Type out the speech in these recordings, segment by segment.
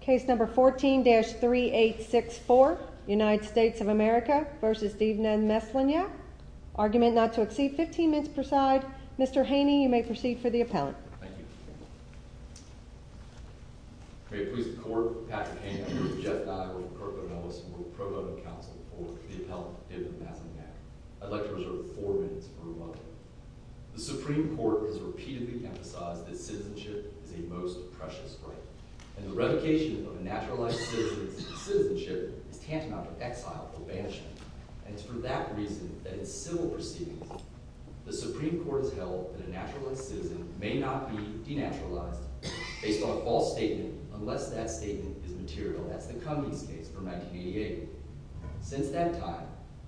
Case No. 14-3864 United States of America v. Divna Maslenjak Argument not to exceed 15 minutes per side. Mr. Haney, you may proceed for the appellant. Thank you. May it please the Court, Patrick Haney, Jeff Nygaard, Kirk O'Mellis, and the provost and counsel for the appellant Divna Maslenjak. I'd like to reserve four minutes for rebuttal. The Supreme Court has repeatedly emphasized that citizenship is a most precious right, and the revocation of a naturalized citizen's citizenship is tantamount to exile or banishment, and it's for that reason that in civil proceedings the Supreme Court has held that a naturalized citizen may not be denaturalized based on a false statement unless that statement is material. That's the Cummings case from 1988. Since that time,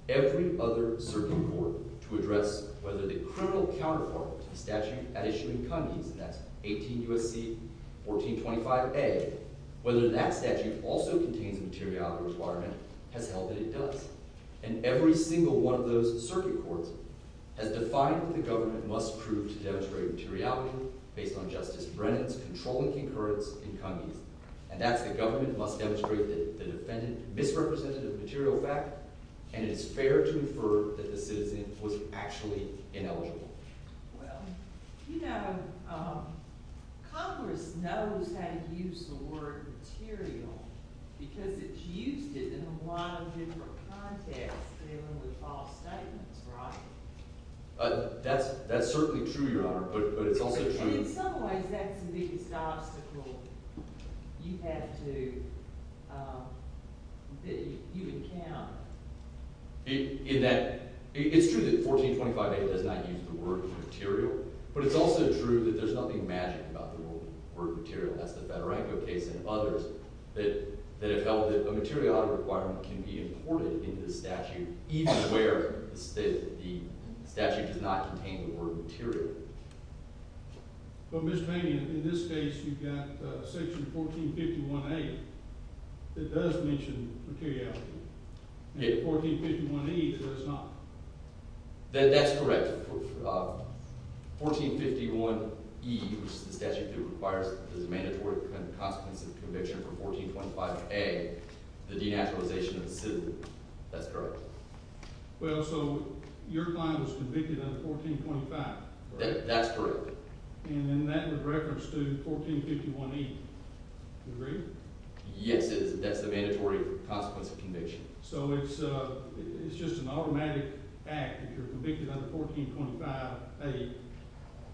every other circuit court to address whether the criminal counterpart to the statute at issue in Cummings, and that's 18 U.S.C. 1425a, whether that statute also contains a materiality requirement, has held that it does. And every single one of those circuit courts has defined that the government must prove to demonstrate materiality based on Justice Brennan's controlling concurrence in Cummings. And that's the government must demonstrate the defendant misrepresented the material fact, and it's fair to infer that the citizen was actually ineligible. Well, you know, Congress knows how to use the word material because it's used it in a lot of different contexts dealing with false statements, right? That's certainly true, Your Honor, but it's also true— And in some ways that's the biggest obstacle you have to—that you encounter. It's true that 1425a does not use the word material, but it's also true that there's nothing magic about the word material. That's the Federico case and others that have held that a materiality requirement can be imported into the statute even where the statute does not contain the word material. But, Mr. Paney, in this case, you've got Section 1451a that does mention materiality, and 1451e does not. That's correct. 1451e, which is the statute that requires the mandatory consequence of conviction for 1425a, the denaturalization of the citizen. That's correct. Well, so your client was convicted under 1425. That's correct. And then that would reference to 1451e. Do you agree? Yes, that's the mandatory consequence of conviction. So it's just an automatic act. If you're convicted under 1425a,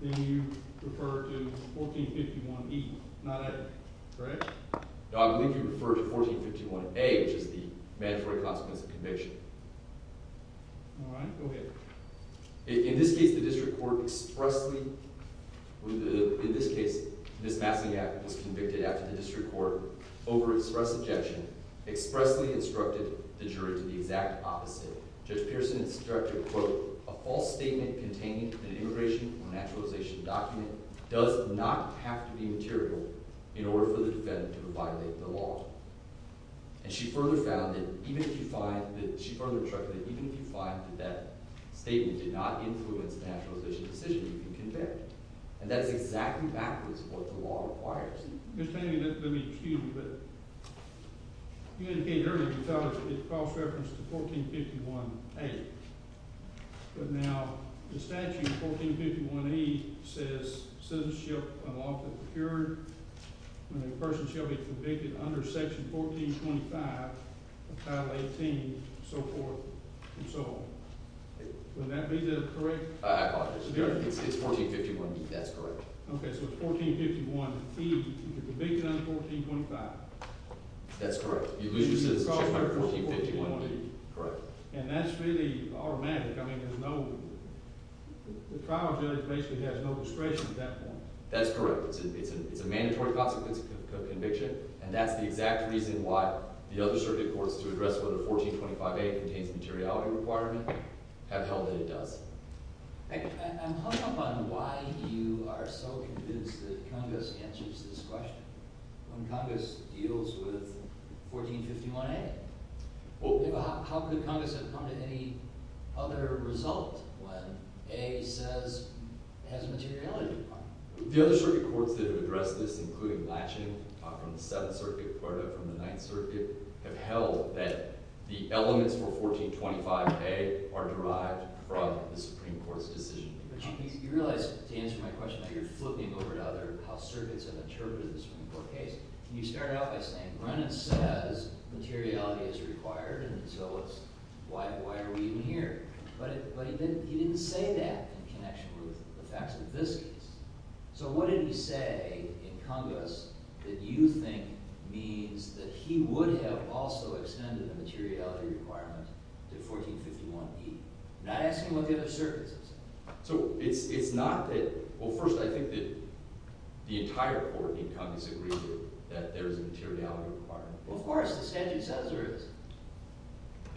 then you refer to 1451e, correct? No, I believe you refer to 1451a, which is the mandatory consequence of conviction. All right. Go ahead. In this case, the district court expressly—in this case, Ms. Massingaff was convicted after the district court, over express objection, expressly instructed the jury to the exact opposite. Judge Pearson instructed, quote, a false statement containing an immigration denaturalization document does not have to be material in order for the defendant to violate the law. And she further found that even if you find—she further instructed that even if you find that that statement did not influence the denaturalization decision, you can convict. And that's exactly backwards of what the law requires. Excuse me, but you indicated earlier you thought it cross-referenced to 1451a. But now the statute, 1451e, says citizenship unlawfully procured when a person shall be convicted under Section 1425 of Title 18 and so forth and so on. Would that be correct? I apologize. It's 1451e. That's correct. Okay, so it's 1451e. You're convicted under 1425. That's correct. You lose your citizenship under 1451e. And that's really automatic. I mean, there's no—the trial judge basically has no discretion at that point. That's correct. It's a mandatory consequence of conviction, and that's the exact reason why the other circuit courts, to address whether 1425a contains a materiality requirement, have held that it does. I'm hung up on why you are so convinced that Congress answers this question when Congress deals with 1451a. How could Congress have come to any other result when a says it has a materiality requirement? The other circuit courts that have addressed this, including Latching from the Seventh Circuit, Puerto from the Ninth Circuit, have held that the elements for 1425a are derived from the Supreme Court's decision. But you realize, to answer my question, that you're flipping over to how circuits have interpreted the Supreme Court case. And you start out by saying Brennan says materiality is required, and so why are we even here? But he didn't say that in connection with the facts of this case. So what did he say in Congress that you think means that he would have also extended the materiality requirement to 1451e? I'm not asking what the other circuits have said. So it's not that—well, first, I think that the entire court in Congress agrees that there is a materiality requirement. Well, of course. The statute says there is.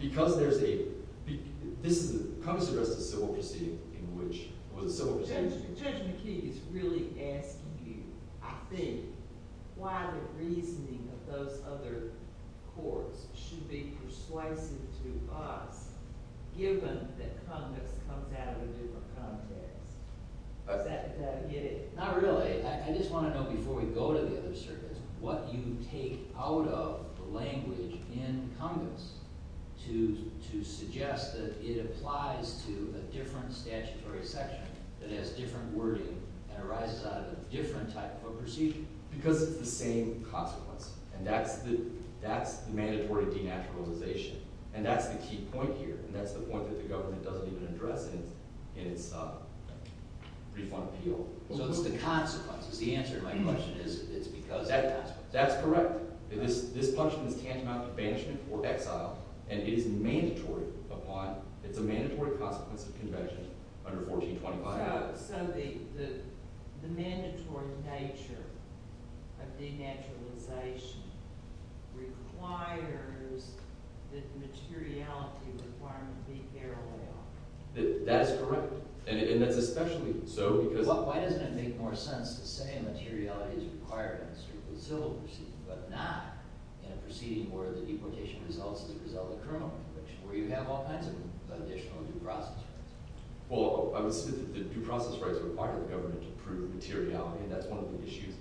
Because there's a—this is—Congress addressed a civil proceeding in which it was a civil proceeding. Judge McKee is really asking you, I think, why the reasoning of those other courts should be persuasive to us given that Congress comes out of a different context. Does that get it? Not really. I just want to know, before we go to the other circuits, what you take out of the language in Congress to suggest that it applies to a different statutory section that has different wording and arises out of a different type of a procedure. Because it's the same consequence, and that's the mandatory denaturalization. And that's the key point here, and that's the point that the government doesn't even address in its refund appeal. So it's the consequences. The answer to my question is it's because of the consequences. That's correct. This punishment is tantamount to banishment or exile, and it is mandatory upon—it's a mandatory consequence of convention under 1425. So the mandatory nature of denaturalization requires that the materiality requirement be parallel. That is correct, and that's especially so because— So why doesn't it make more sense to say materiality is required in a strictly civil proceeding but not in a proceeding where the deportation results as a result of the criminal conviction, where you have all kinds of additional due process rights? Well, I would say that the due process rights require the government to prove materiality, and that's one of the issues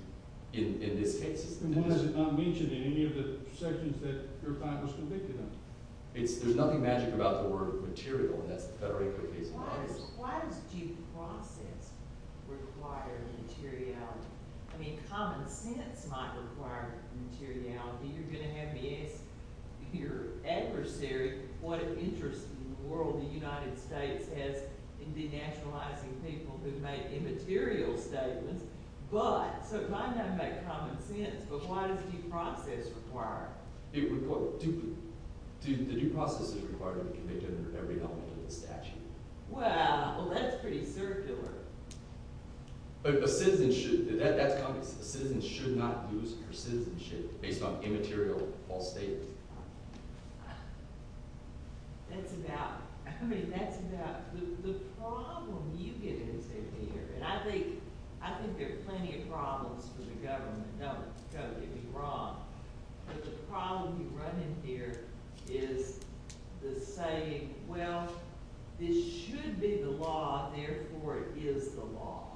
in this case. And why is it not mentioned in any of the sections that your client was convicted of? There's nothing magic about the word material, and that's the Federico case in Congress. Why does due process require materiality? I mean, common sense might require materiality. You're going to have me ask your adversary what interest in the world the United States has in denaturalizing people who make immaterial statements. But—so it might not make common sense, but why does due process require it? The due process is required to be convicted under every element of the statute. Well, that's pretty circular. A citizen should—that's common sense. A citizen should not lose her citizenship based on immaterial false statements. That's about—I mean, that's about the problem you get into here, and I think there are plenty of problems for the government. You've got to get me wrong, but the problem you run into here is the saying, well, this should be the law, therefore it is the law.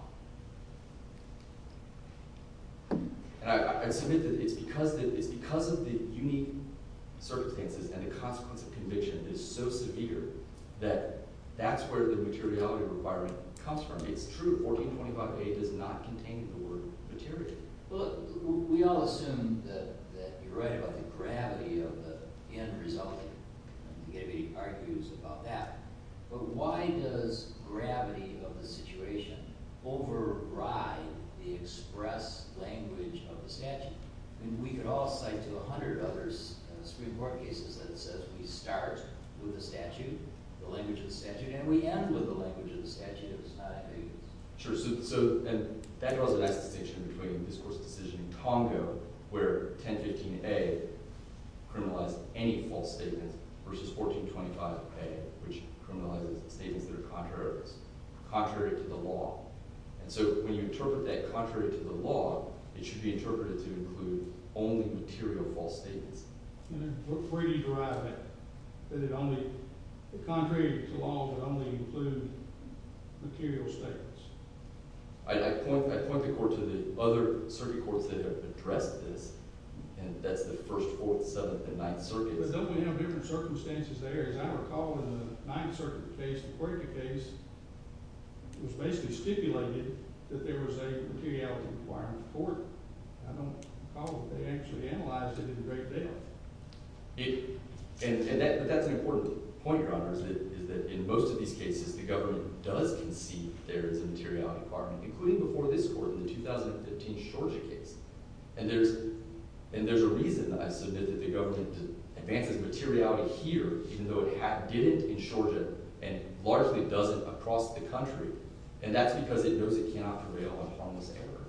And I submit that it's because of the unique circumstances and the consequence of conviction is so severe that that's where the materiality requirement comes from. It's true. 1425A does not contain the word materiality. Well, look, we all assume that you're right about the gravity of the end result. I don't think anybody argues about that. But why does gravity of the situation override the express language of the statute? I mean, we could all cite to a hundred others Supreme Court cases that says we start with the statute, the language of the statute, and we end with the language of the statute if it's not ambiguous. Sure. So that draws a nice distinction between this court's decision in Congo where 1015A criminalized any false statement versus 1425A, which criminalizes statements that are contrary to the law. And so when you interpret that contrary to the law, it should be interpreted to include only material false statements. And it would freely derive that it only – that contrary to the law, it would only include material statements. I point the court to the other circuit courts that have addressed this, and that's the First, Fourth, Seventh, and Ninth Circuits. But don't we have different circumstances there? As I recall, in the Ninth Circuit case, the Quirkia case, it was basically stipulated that there was a materiality requirement for it. I don't recall that they actually analyzed it in great depth. And that's an important point, Your Honors, is that in most of these cases the government does concede there is a materiality requirement, including before this court in the 2015 Shorjia case. And there's a reason, I assume, that the government advances materiality here even though it didn't in Shorjia and largely doesn't across the country. And that's because it knows it cannot prevail on harmless error.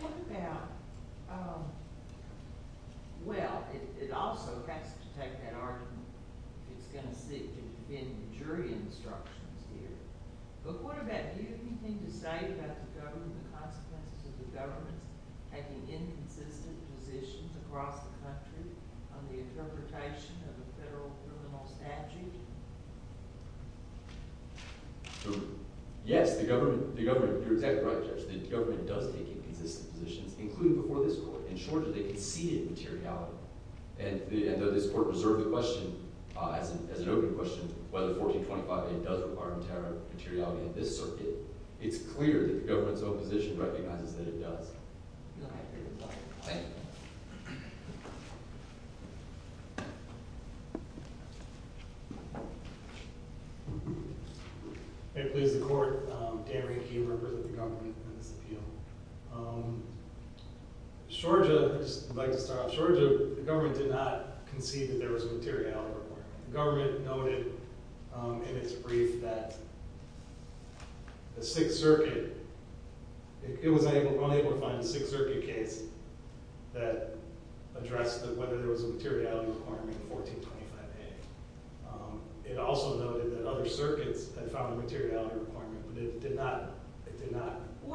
What about – well, it also has to take that argument. It's going to sit in jury instructions here. But what about – do you have anything to say about the government, the consequences of the government's taking inconsistent positions across the country on the interpretation of a federal criminal statute? Yes, the government – you're exactly right, Judge. The government does take inconsistent positions, including before this court. In Shorjia, they conceded materiality. And though this court reserved the question as an open question whether 1425A does require materiality in this circuit, it's clear that the government's opposition recognizes that it does. All right. May it please the court, Dan Rehke. I represent the government in this appeal. Shorjia – I'd just like to start off. Shorjia, the government did not concede that there was a materiality requirement. The government noted in its brief that the Sixth Circuit – it was unable to find a Sixth Circuit case that addressed whether there was a materiality requirement in 1425A. It also noted that other circuits had found a materiality requirement, but it did not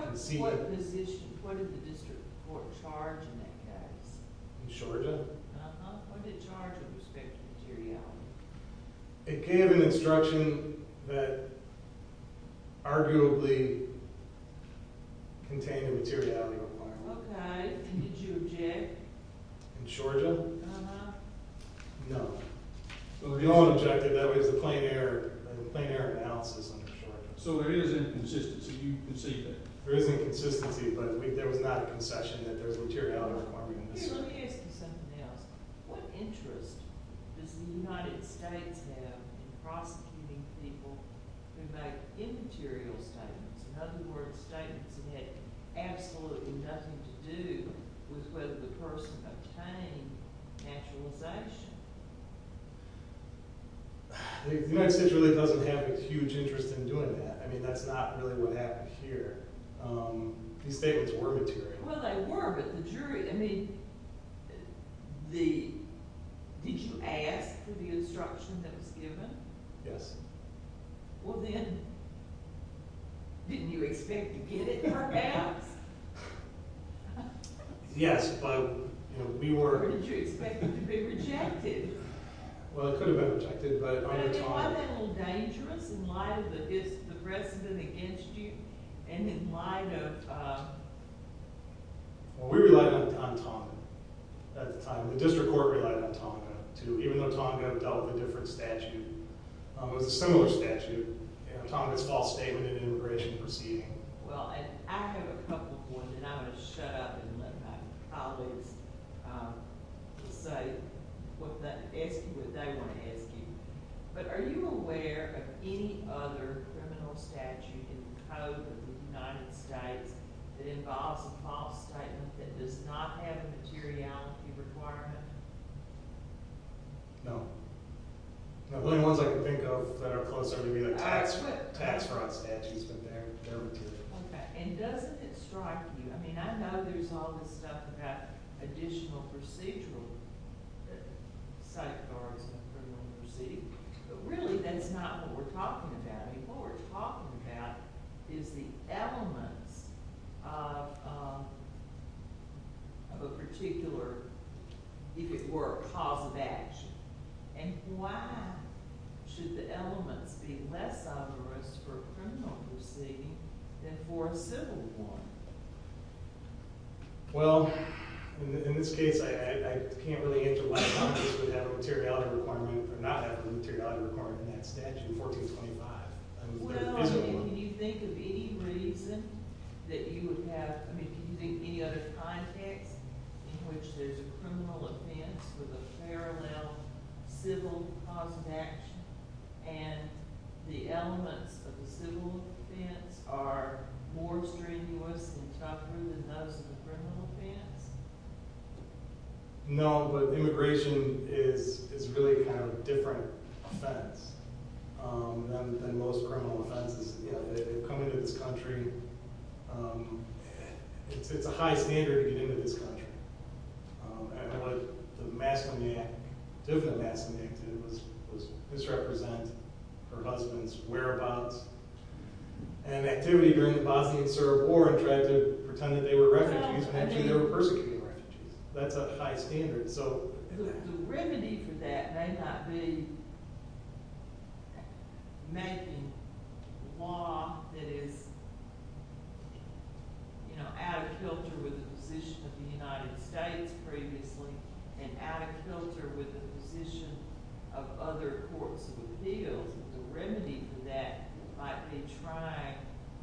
concede. What position – what did the district court charge in that case? In Shorjia? Uh-huh. What did it charge with respect to materiality? It gave an instruction that arguably contained a materiality requirement. Okay. And did you object? In Shorjia? Uh-huh. No. We all objected. That was a plain error – a plain error analysis under Shorjia. So there is inconsistency. You concede that. There is inconsistency, but there was not a concession that there was a materiality requirement in this case. Let me ask you something else. What interest does the United States have in prosecuting people who make immaterial statements, in other words, statements that had absolutely nothing to do with whether the person obtained naturalization? The United States really doesn't have a huge interest in doing that. I mean, that's not really what happened here. These statements were material. Well, they were, but the jury – I mean, did you ask for the instruction that was given? Yes. Well, then, didn't you expect to get it, perhaps? Yes, but we were – Or did you expect it to be rejected? Well, it could have been rejected, but if I were to talk – I mean, wasn't that a little dangerous in light of the precedent against you and in light of – Well, we relied on Tonga at the time. The district court relied on Tonga, too, even though Tonga dealt with a different statute. It was a similar statute, Tonga's false statement in an immigration proceeding. Well, and I have a couple points, and I'm going to shut up and let my colleagues say what they want to ask you. But are you aware of any other criminal statute in the code of the United States that involves a false statement that does not have a materiality requirement? No. The only ones I can think of that are closer to me are tax fraud statutes, but they're material. Okay, and doesn't it strike you – I mean, I know there's all this stuff about additional procedural safeguards in a criminal proceeding, but really that's not what we're talking about. What we're talking about is the elements of a particular – if it were a cause of action. And why should the elements be less obvious for a criminal proceeding than for a civil one? Well, in this case, I can't really answer why Tonga would have a materiality requirement or not have a materiality requirement in that statute in 1425. Well, I mean, can you think of any reason that you would have – I mean, can you think of any other context in which there's a criminal offense with a parallel civil cause of action, and the elements of the civil offense are more strenuous and tougher than those of the criminal offense? No, but immigration is really kind of a different offense than most criminal offenses. You know, they come into this country – it's a high standard to get into this country. And what the Maslami Act – the different Maslami Act did was misrepresent her husband's whereabouts. And activity during the Bosnian-Serb War and tried to pretend that they were refugees, but actually they were persecuted refugees. That's a high standard. The remedy for that may not be making law that is out of kilter with the position of the United States previously and out of kilter with the position of other courts of appeals. The remedy for that might be trying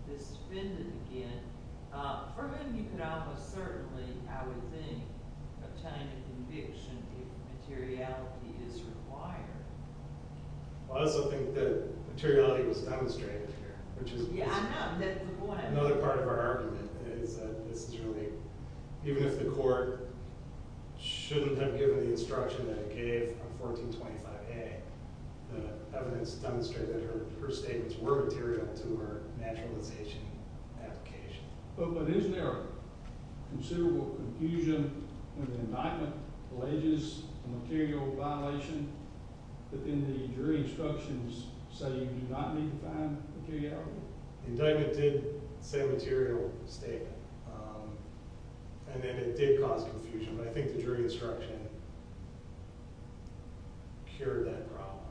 this defendant again. For him, you could almost certainly, I would think, obtain a conviction if materiality is required. I also think that materiality was demonstrated here. Yeah, I know. That's the point. Another part of our argument is that this is really – even if the court shouldn't have given the instruction that it gave on 1425A, the evidence demonstrated that her statements were material to her naturalization application. But isn't there considerable confusion when the indictment alleges a material violation, but then the jury instructions say you do not need to find materiality? The indictment did say material statement, and then it did cause confusion. But I think the jury instruction cured that problem.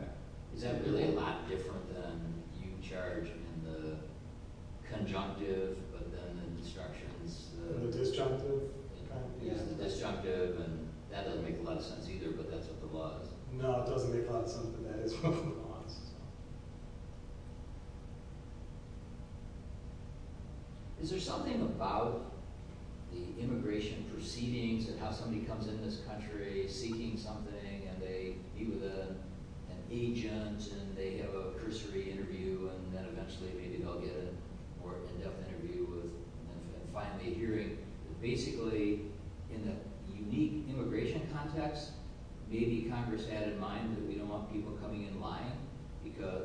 Okay. Is that really a lot different than you charge in the conjunctive but then in the instructions? The disjunctive? Yeah, the disjunctive, and that doesn't make a lot of sense either, but that's what the law is. No, it doesn't make a lot of sense, but that is what the law is. Is there something about the immigration proceedings and how somebody comes into this country seeking something, and they meet with an agent, and they have a cursory interview, and then eventually maybe they'll get a more in-depth interview and finally a hearing? Basically, in the unique immigration context, maybe Congress had in mind that we don't want people coming in lying,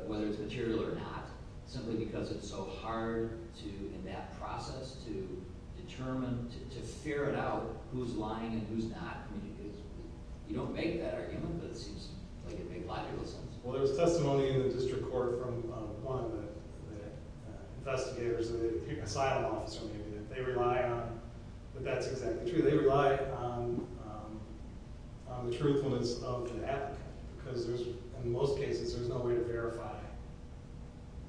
whether it's material or not, simply because it's so hard in that process to determine, to ferret out who's lying and who's not. You don't make that argument, but it seems like it makes logical sense. Well, there was testimony in the district court from one of the investigators, an asylum officer, maybe, that they rely on, but that's exactly true. They rely on the truthfulness of an advocate, because in most cases there's no way to verify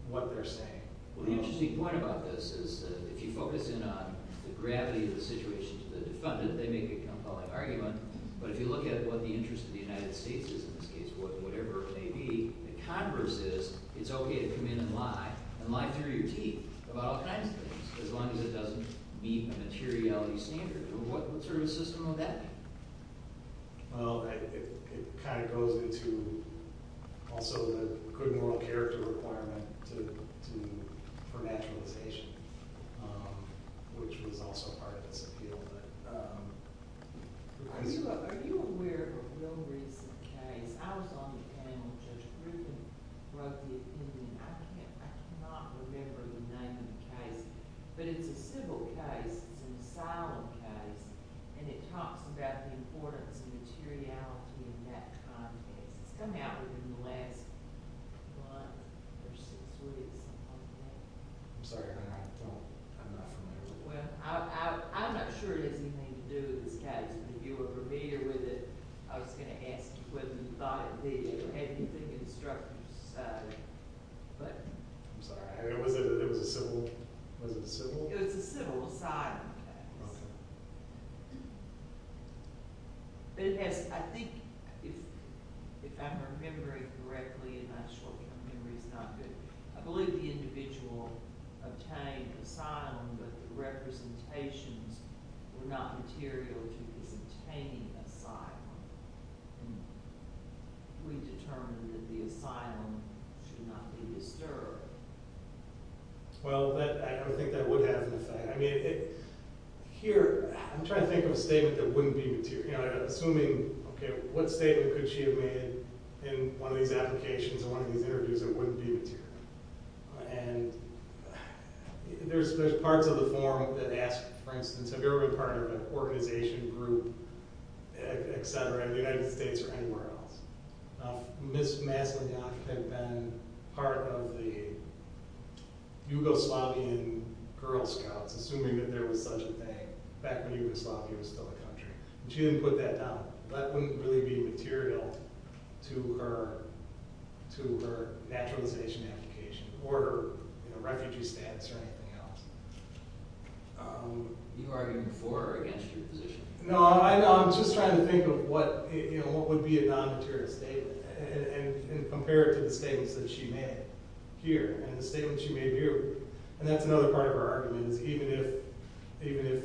what they're saying. Well, the interesting point about this is that if you focus in on the gravity of the situation to the defendant, they make a compelling argument, but if you look at what the interest of the United States is in this case, whatever it may be, the Congress is, it's okay to come in and lie, and lie through your teeth, about all kinds of things, as long as it doesn't meet a materiality standard. What sort of system would that be? Well, it kind of goes into also the good moral character requirement for naturalization, which was also part of this appeal. Are you aware of a real recent case? I was on the panel. Judge Griffin wrote the opinion. I cannot remember the name of the case, but it's a civil case. It's an asylum case, and it talks about the importance of materiality in that context. It's come out within the last month or six weeks, something like that. I'm sorry. I'm not familiar with it. Well, I'm not sure it has anything to do with this case, but if you were familiar with it, I was going to ask whether you thought it did or had anything instructive to say. I'm sorry. It was a civil? It was a civil asylum case. Okay. But it has, I think, if I'm remembering correctly, and I'm sure my memory is not good, I believe the individual obtained asylum, but the representations were not material to his obtaining asylum. We determined that the asylum should not be disturbed. Well, I don't think that would have an effect. I mean, here I'm trying to think of a statement that wouldn't be material. Assuming, okay, what statement could she have made in one of these applications or one of these interviews, it wouldn't be material. And there's parts of the form that ask, for instance, have you ever been part of an organization, group, et cetera, in the United States or anywhere else. Ms. Maslenyak had been part of the Yugoslavian Girl Scouts, assuming that there was such a thing. Back when Yugoslavia was still a country. She didn't put that down. That wouldn't really be material to her naturalization application or refugee status or anything else. Are you arguing for or against her position? No, I'm just trying to think of what would be a non-material statement and compare it to the statements that she made here and the statements she made here. And that's another part of our argument is even if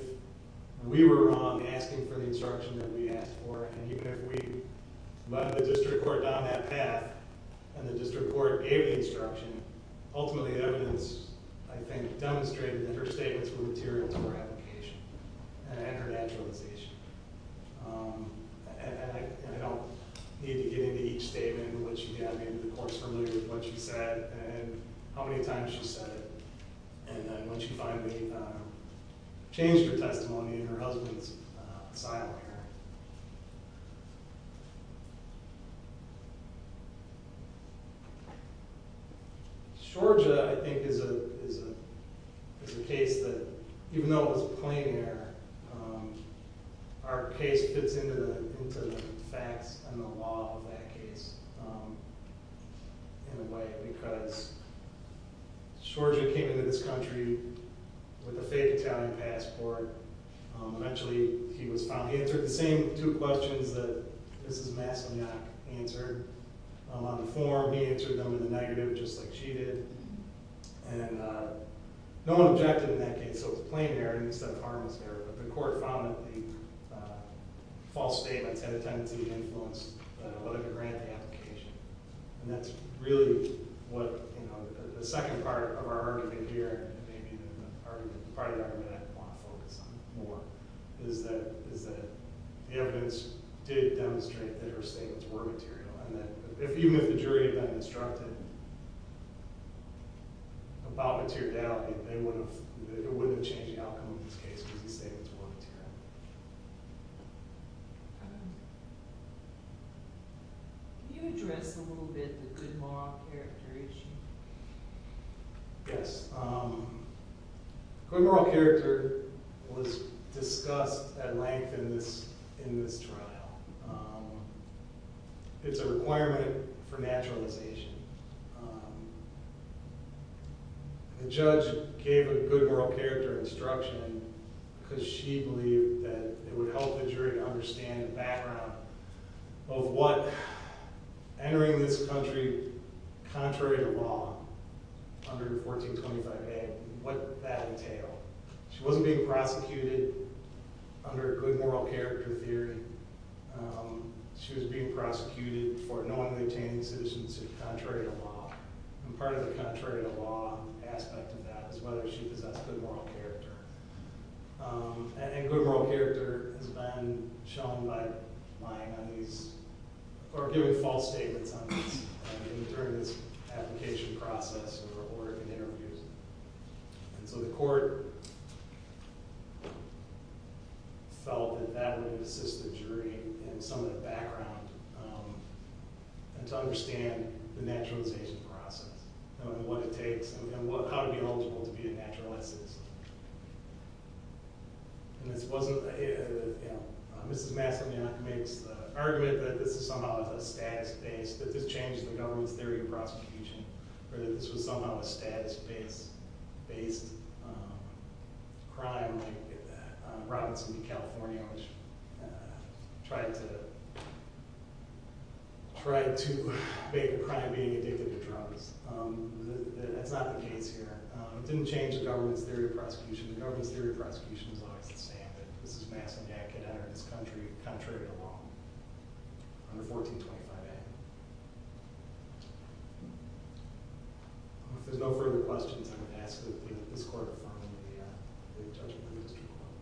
we were wrong asking for the instruction that we asked for and even if we led the district court down that path and the district court gave the instruction, ultimately the evidence, I think, demonstrated that her statements were material to her application and her naturalization. And I don't need to get into each statement and what she had made. I think the court is familiar with what she said and how many times she said it. And when she finally changed her testimony in her husband's asylum here. Shorja, I think, is a case that even though it was a plain error, our case fits into the facts and the law of that case in a way. Because Shorja came into this country with a fake Italian passport. Eventually, he was found. He answered the same two questions that Mrs. Maslenyak answered. On the form, he answered them in the negative just like she did. And no one objected in that case, so it was a plain error instead of a harmless error. But the court found that the false statements had a tendency to influence whether to grant the application. And that's really what the second part of our argument here, and maybe the part of the argument I want to focus on more, is that the evidence did demonstrate that her statements were material. And even if the jury had been instructed about materiality, it wouldn't have changed the outcome of this case because the statements were material. Can you address a little bit the good moral character issue? Yes. Good moral character was discussed at length in this trial. It's a requirement for naturalization. The judge gave a good moral character instruction because she believed that it would help the jury understand the background of what, entering this country contrary to law under 1425A, what that entailed. She wasn't being prosecuted under a good moral character theory. She was being prosecuted for knowingly obtaining citizenship contrary to law. And part of the contrary to law aspect of that is whether she possessed good moral character. And good moral character has been shown by lying on these, or giving false statements on these, during this application process or in interviews. And so the court felt that that would assist the jury in some of the background and to understand the naturalization process and what it takes and how to be eligible to be a naturalized citizen. And this wasn't, you know, Mrs. Masson-Yonk makes the argument that this is somehow a status base, that this changed the government's theory of prosecution, or that this was somehow a status-based crime like Robinson v. California, which tried to make a crime being addicted to drugs. That's not the case here. It didn't change the government's theory of prosecution. The government's theory of prosecution was always the same, that Mrs. Masson-Yonk had entered this country contrary to law under 1425A. If there's no further questions, I'm going to ask that this court find the judge to bring those people up.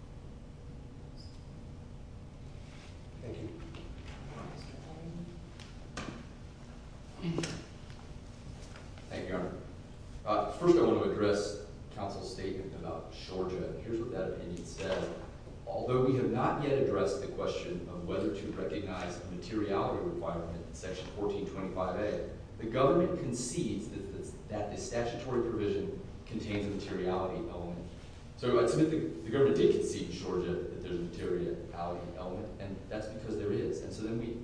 Thank you. Thank you, Your Honor. First, I want to address counsel's statement about Georgia. Here's what that opinion said. Although we have not yet addressed the question of whether to recognize the materiality requirement in Section 1425A, the government concedes that the statutory provision contains a materiality element. So I'd submit the government did concede in Georgia that there's a materiality element, and that's because there is. And so then we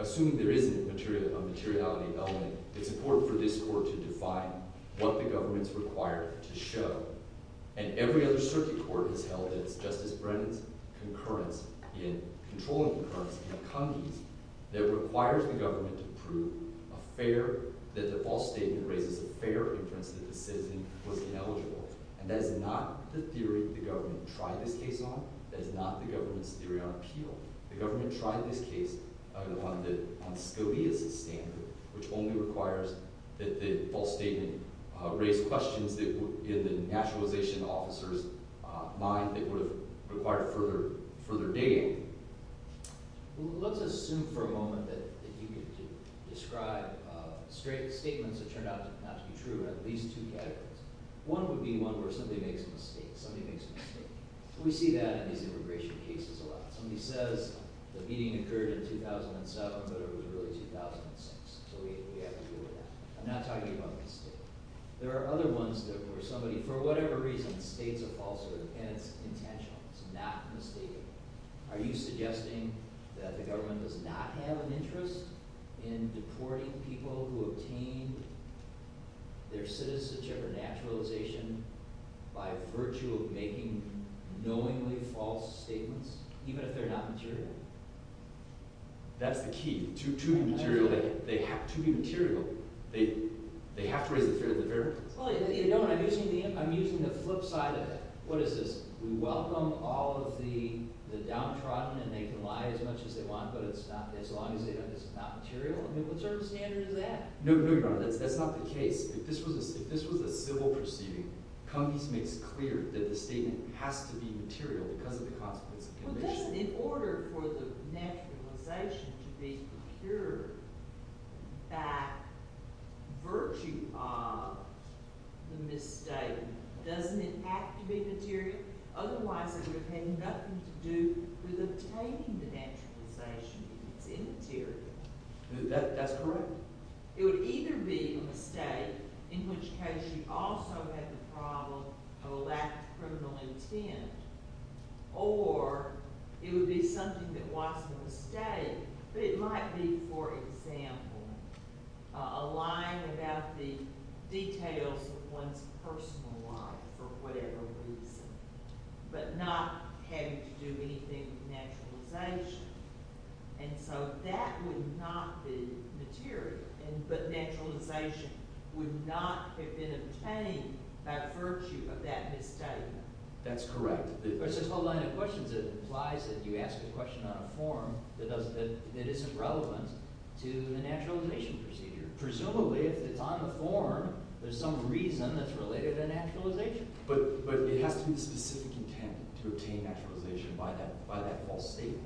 assume there isn't a materiality element. It's important for this court to define what the government's required to show. And every other circuit court has held that it's Justice Brennan's concurrence, in controlling concurrence, that it requires the government to prove a fair – that the false statement raises a fair inference that the citizen was ineligible. And that is not the theory the government tried this case on. That is not the government's theory on appeal. The government tried this case on Scalia's standard, which only requires that the false statement raise questions that were in the naturalization officer's mind that would have required further digging. Well, let's assume for a moment that you could describe statements that turned out not to be true in at least two categories. One would be one where somebody makes a mistake. Somebody makes a mistake. We see that in these immigration cases a lot. Somebody says the meeting occurred in 2007, but it was really 2006, so we have to deal with that. I'm not talking about a mistake. There are other ones where somebody, for whatever reason, states a false statement, and it's intentional. It's not a mistake. Are you suggesting that the government does not have an interest in deporting people who obtained their citizenship or naturalization by virtue of making knowingly false statements? Even if they're not material? That's the key. To be material, they have to be material. They have to raise a fair question. I'm using the flip side of it. What is this? We welcome all of the downtrodden, and they can lie as much as they want, but as long as it's not material? What sort of standard is that? No, Your Honor. That's not the case. If this was a civil proceeding, Cummings makes it clear that the statement has to be material because of the consequences. In order for the naturalization to be procured by virtue of the misstatement, doesn't it have to be material? Otherwise, it would have had nothing to do with obtaining the naturalization. It's immaterial. That's correct. It would either be a mistake, in which case you also have the problem of a lacked criminal intent, or it would be something that wasn't a mistake, but it might be, for example, a lying about the details of one's personal life for whatever reason, but not having to do anything with naturalization. That would not be material, but naturalization would not have been obtained by virtue of that misstatement. That's correct. There's a whole line of questions that implies that you ask a question on a form that isn't relevant to the naturalization procedure. Presumably, if it's on the form, there's some reason that's related to naturalization. But it has to be the specific intent to obtain naturalization by that false statement.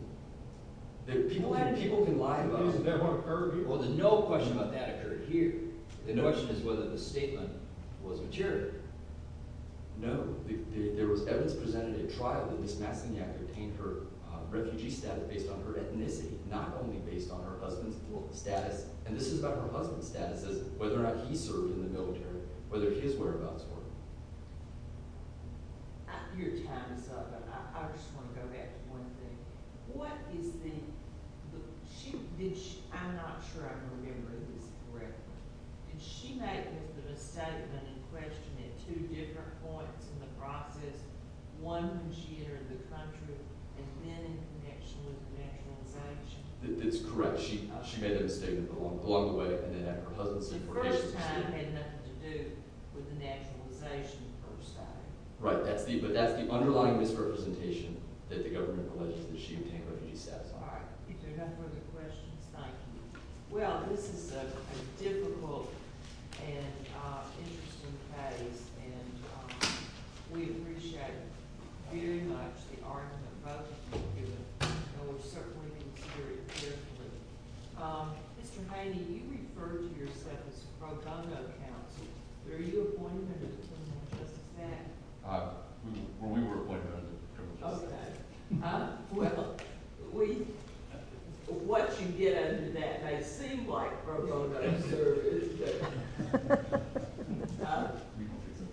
People can lie about it. Well, no question about that occurred here. The question is whether the statement was material. No. There was evidence presented at trial that this mass senior act obtained her refugee status based on her ethnicity, not only based on her husband's status, and this is about her husband's status, whether or not he served in the military, whether his whereabouts were. Your time is up, but I just want to go back to one thing. What is the – I'm not sure I'm remembering this correctly. Did she make the misstatement in question at two different points in the process, one when she entered the country and then in connection with naturalization? That's correct. She made a misstatement along the way and then at her husband's certification. The first time had nothing to do with the naturalization, per se. Right. But that's the underlying misrepresentation that the government alleges that she obtained her refugee status. All right. If there are no further questions, thank you. Well, this is a difficult and interesting case, and we appreciate it very much. We actually are in a vote, and we're circling this very carefully. Mr. Haney, you referred to yourself as a pro-gongo counsel. Were you appointed under the Criminal Justice Act? We were appointed under the Criminal Justice Act. Okay. Well, what you get out of that may seem like pro-gongo service,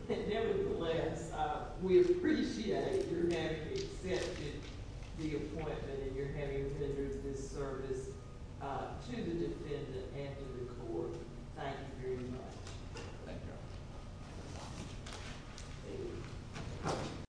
but nevertheless, we appreciate your having accepted the appointment and your having rendered this service to the defendant and to the court. Thank you very much. Thank you.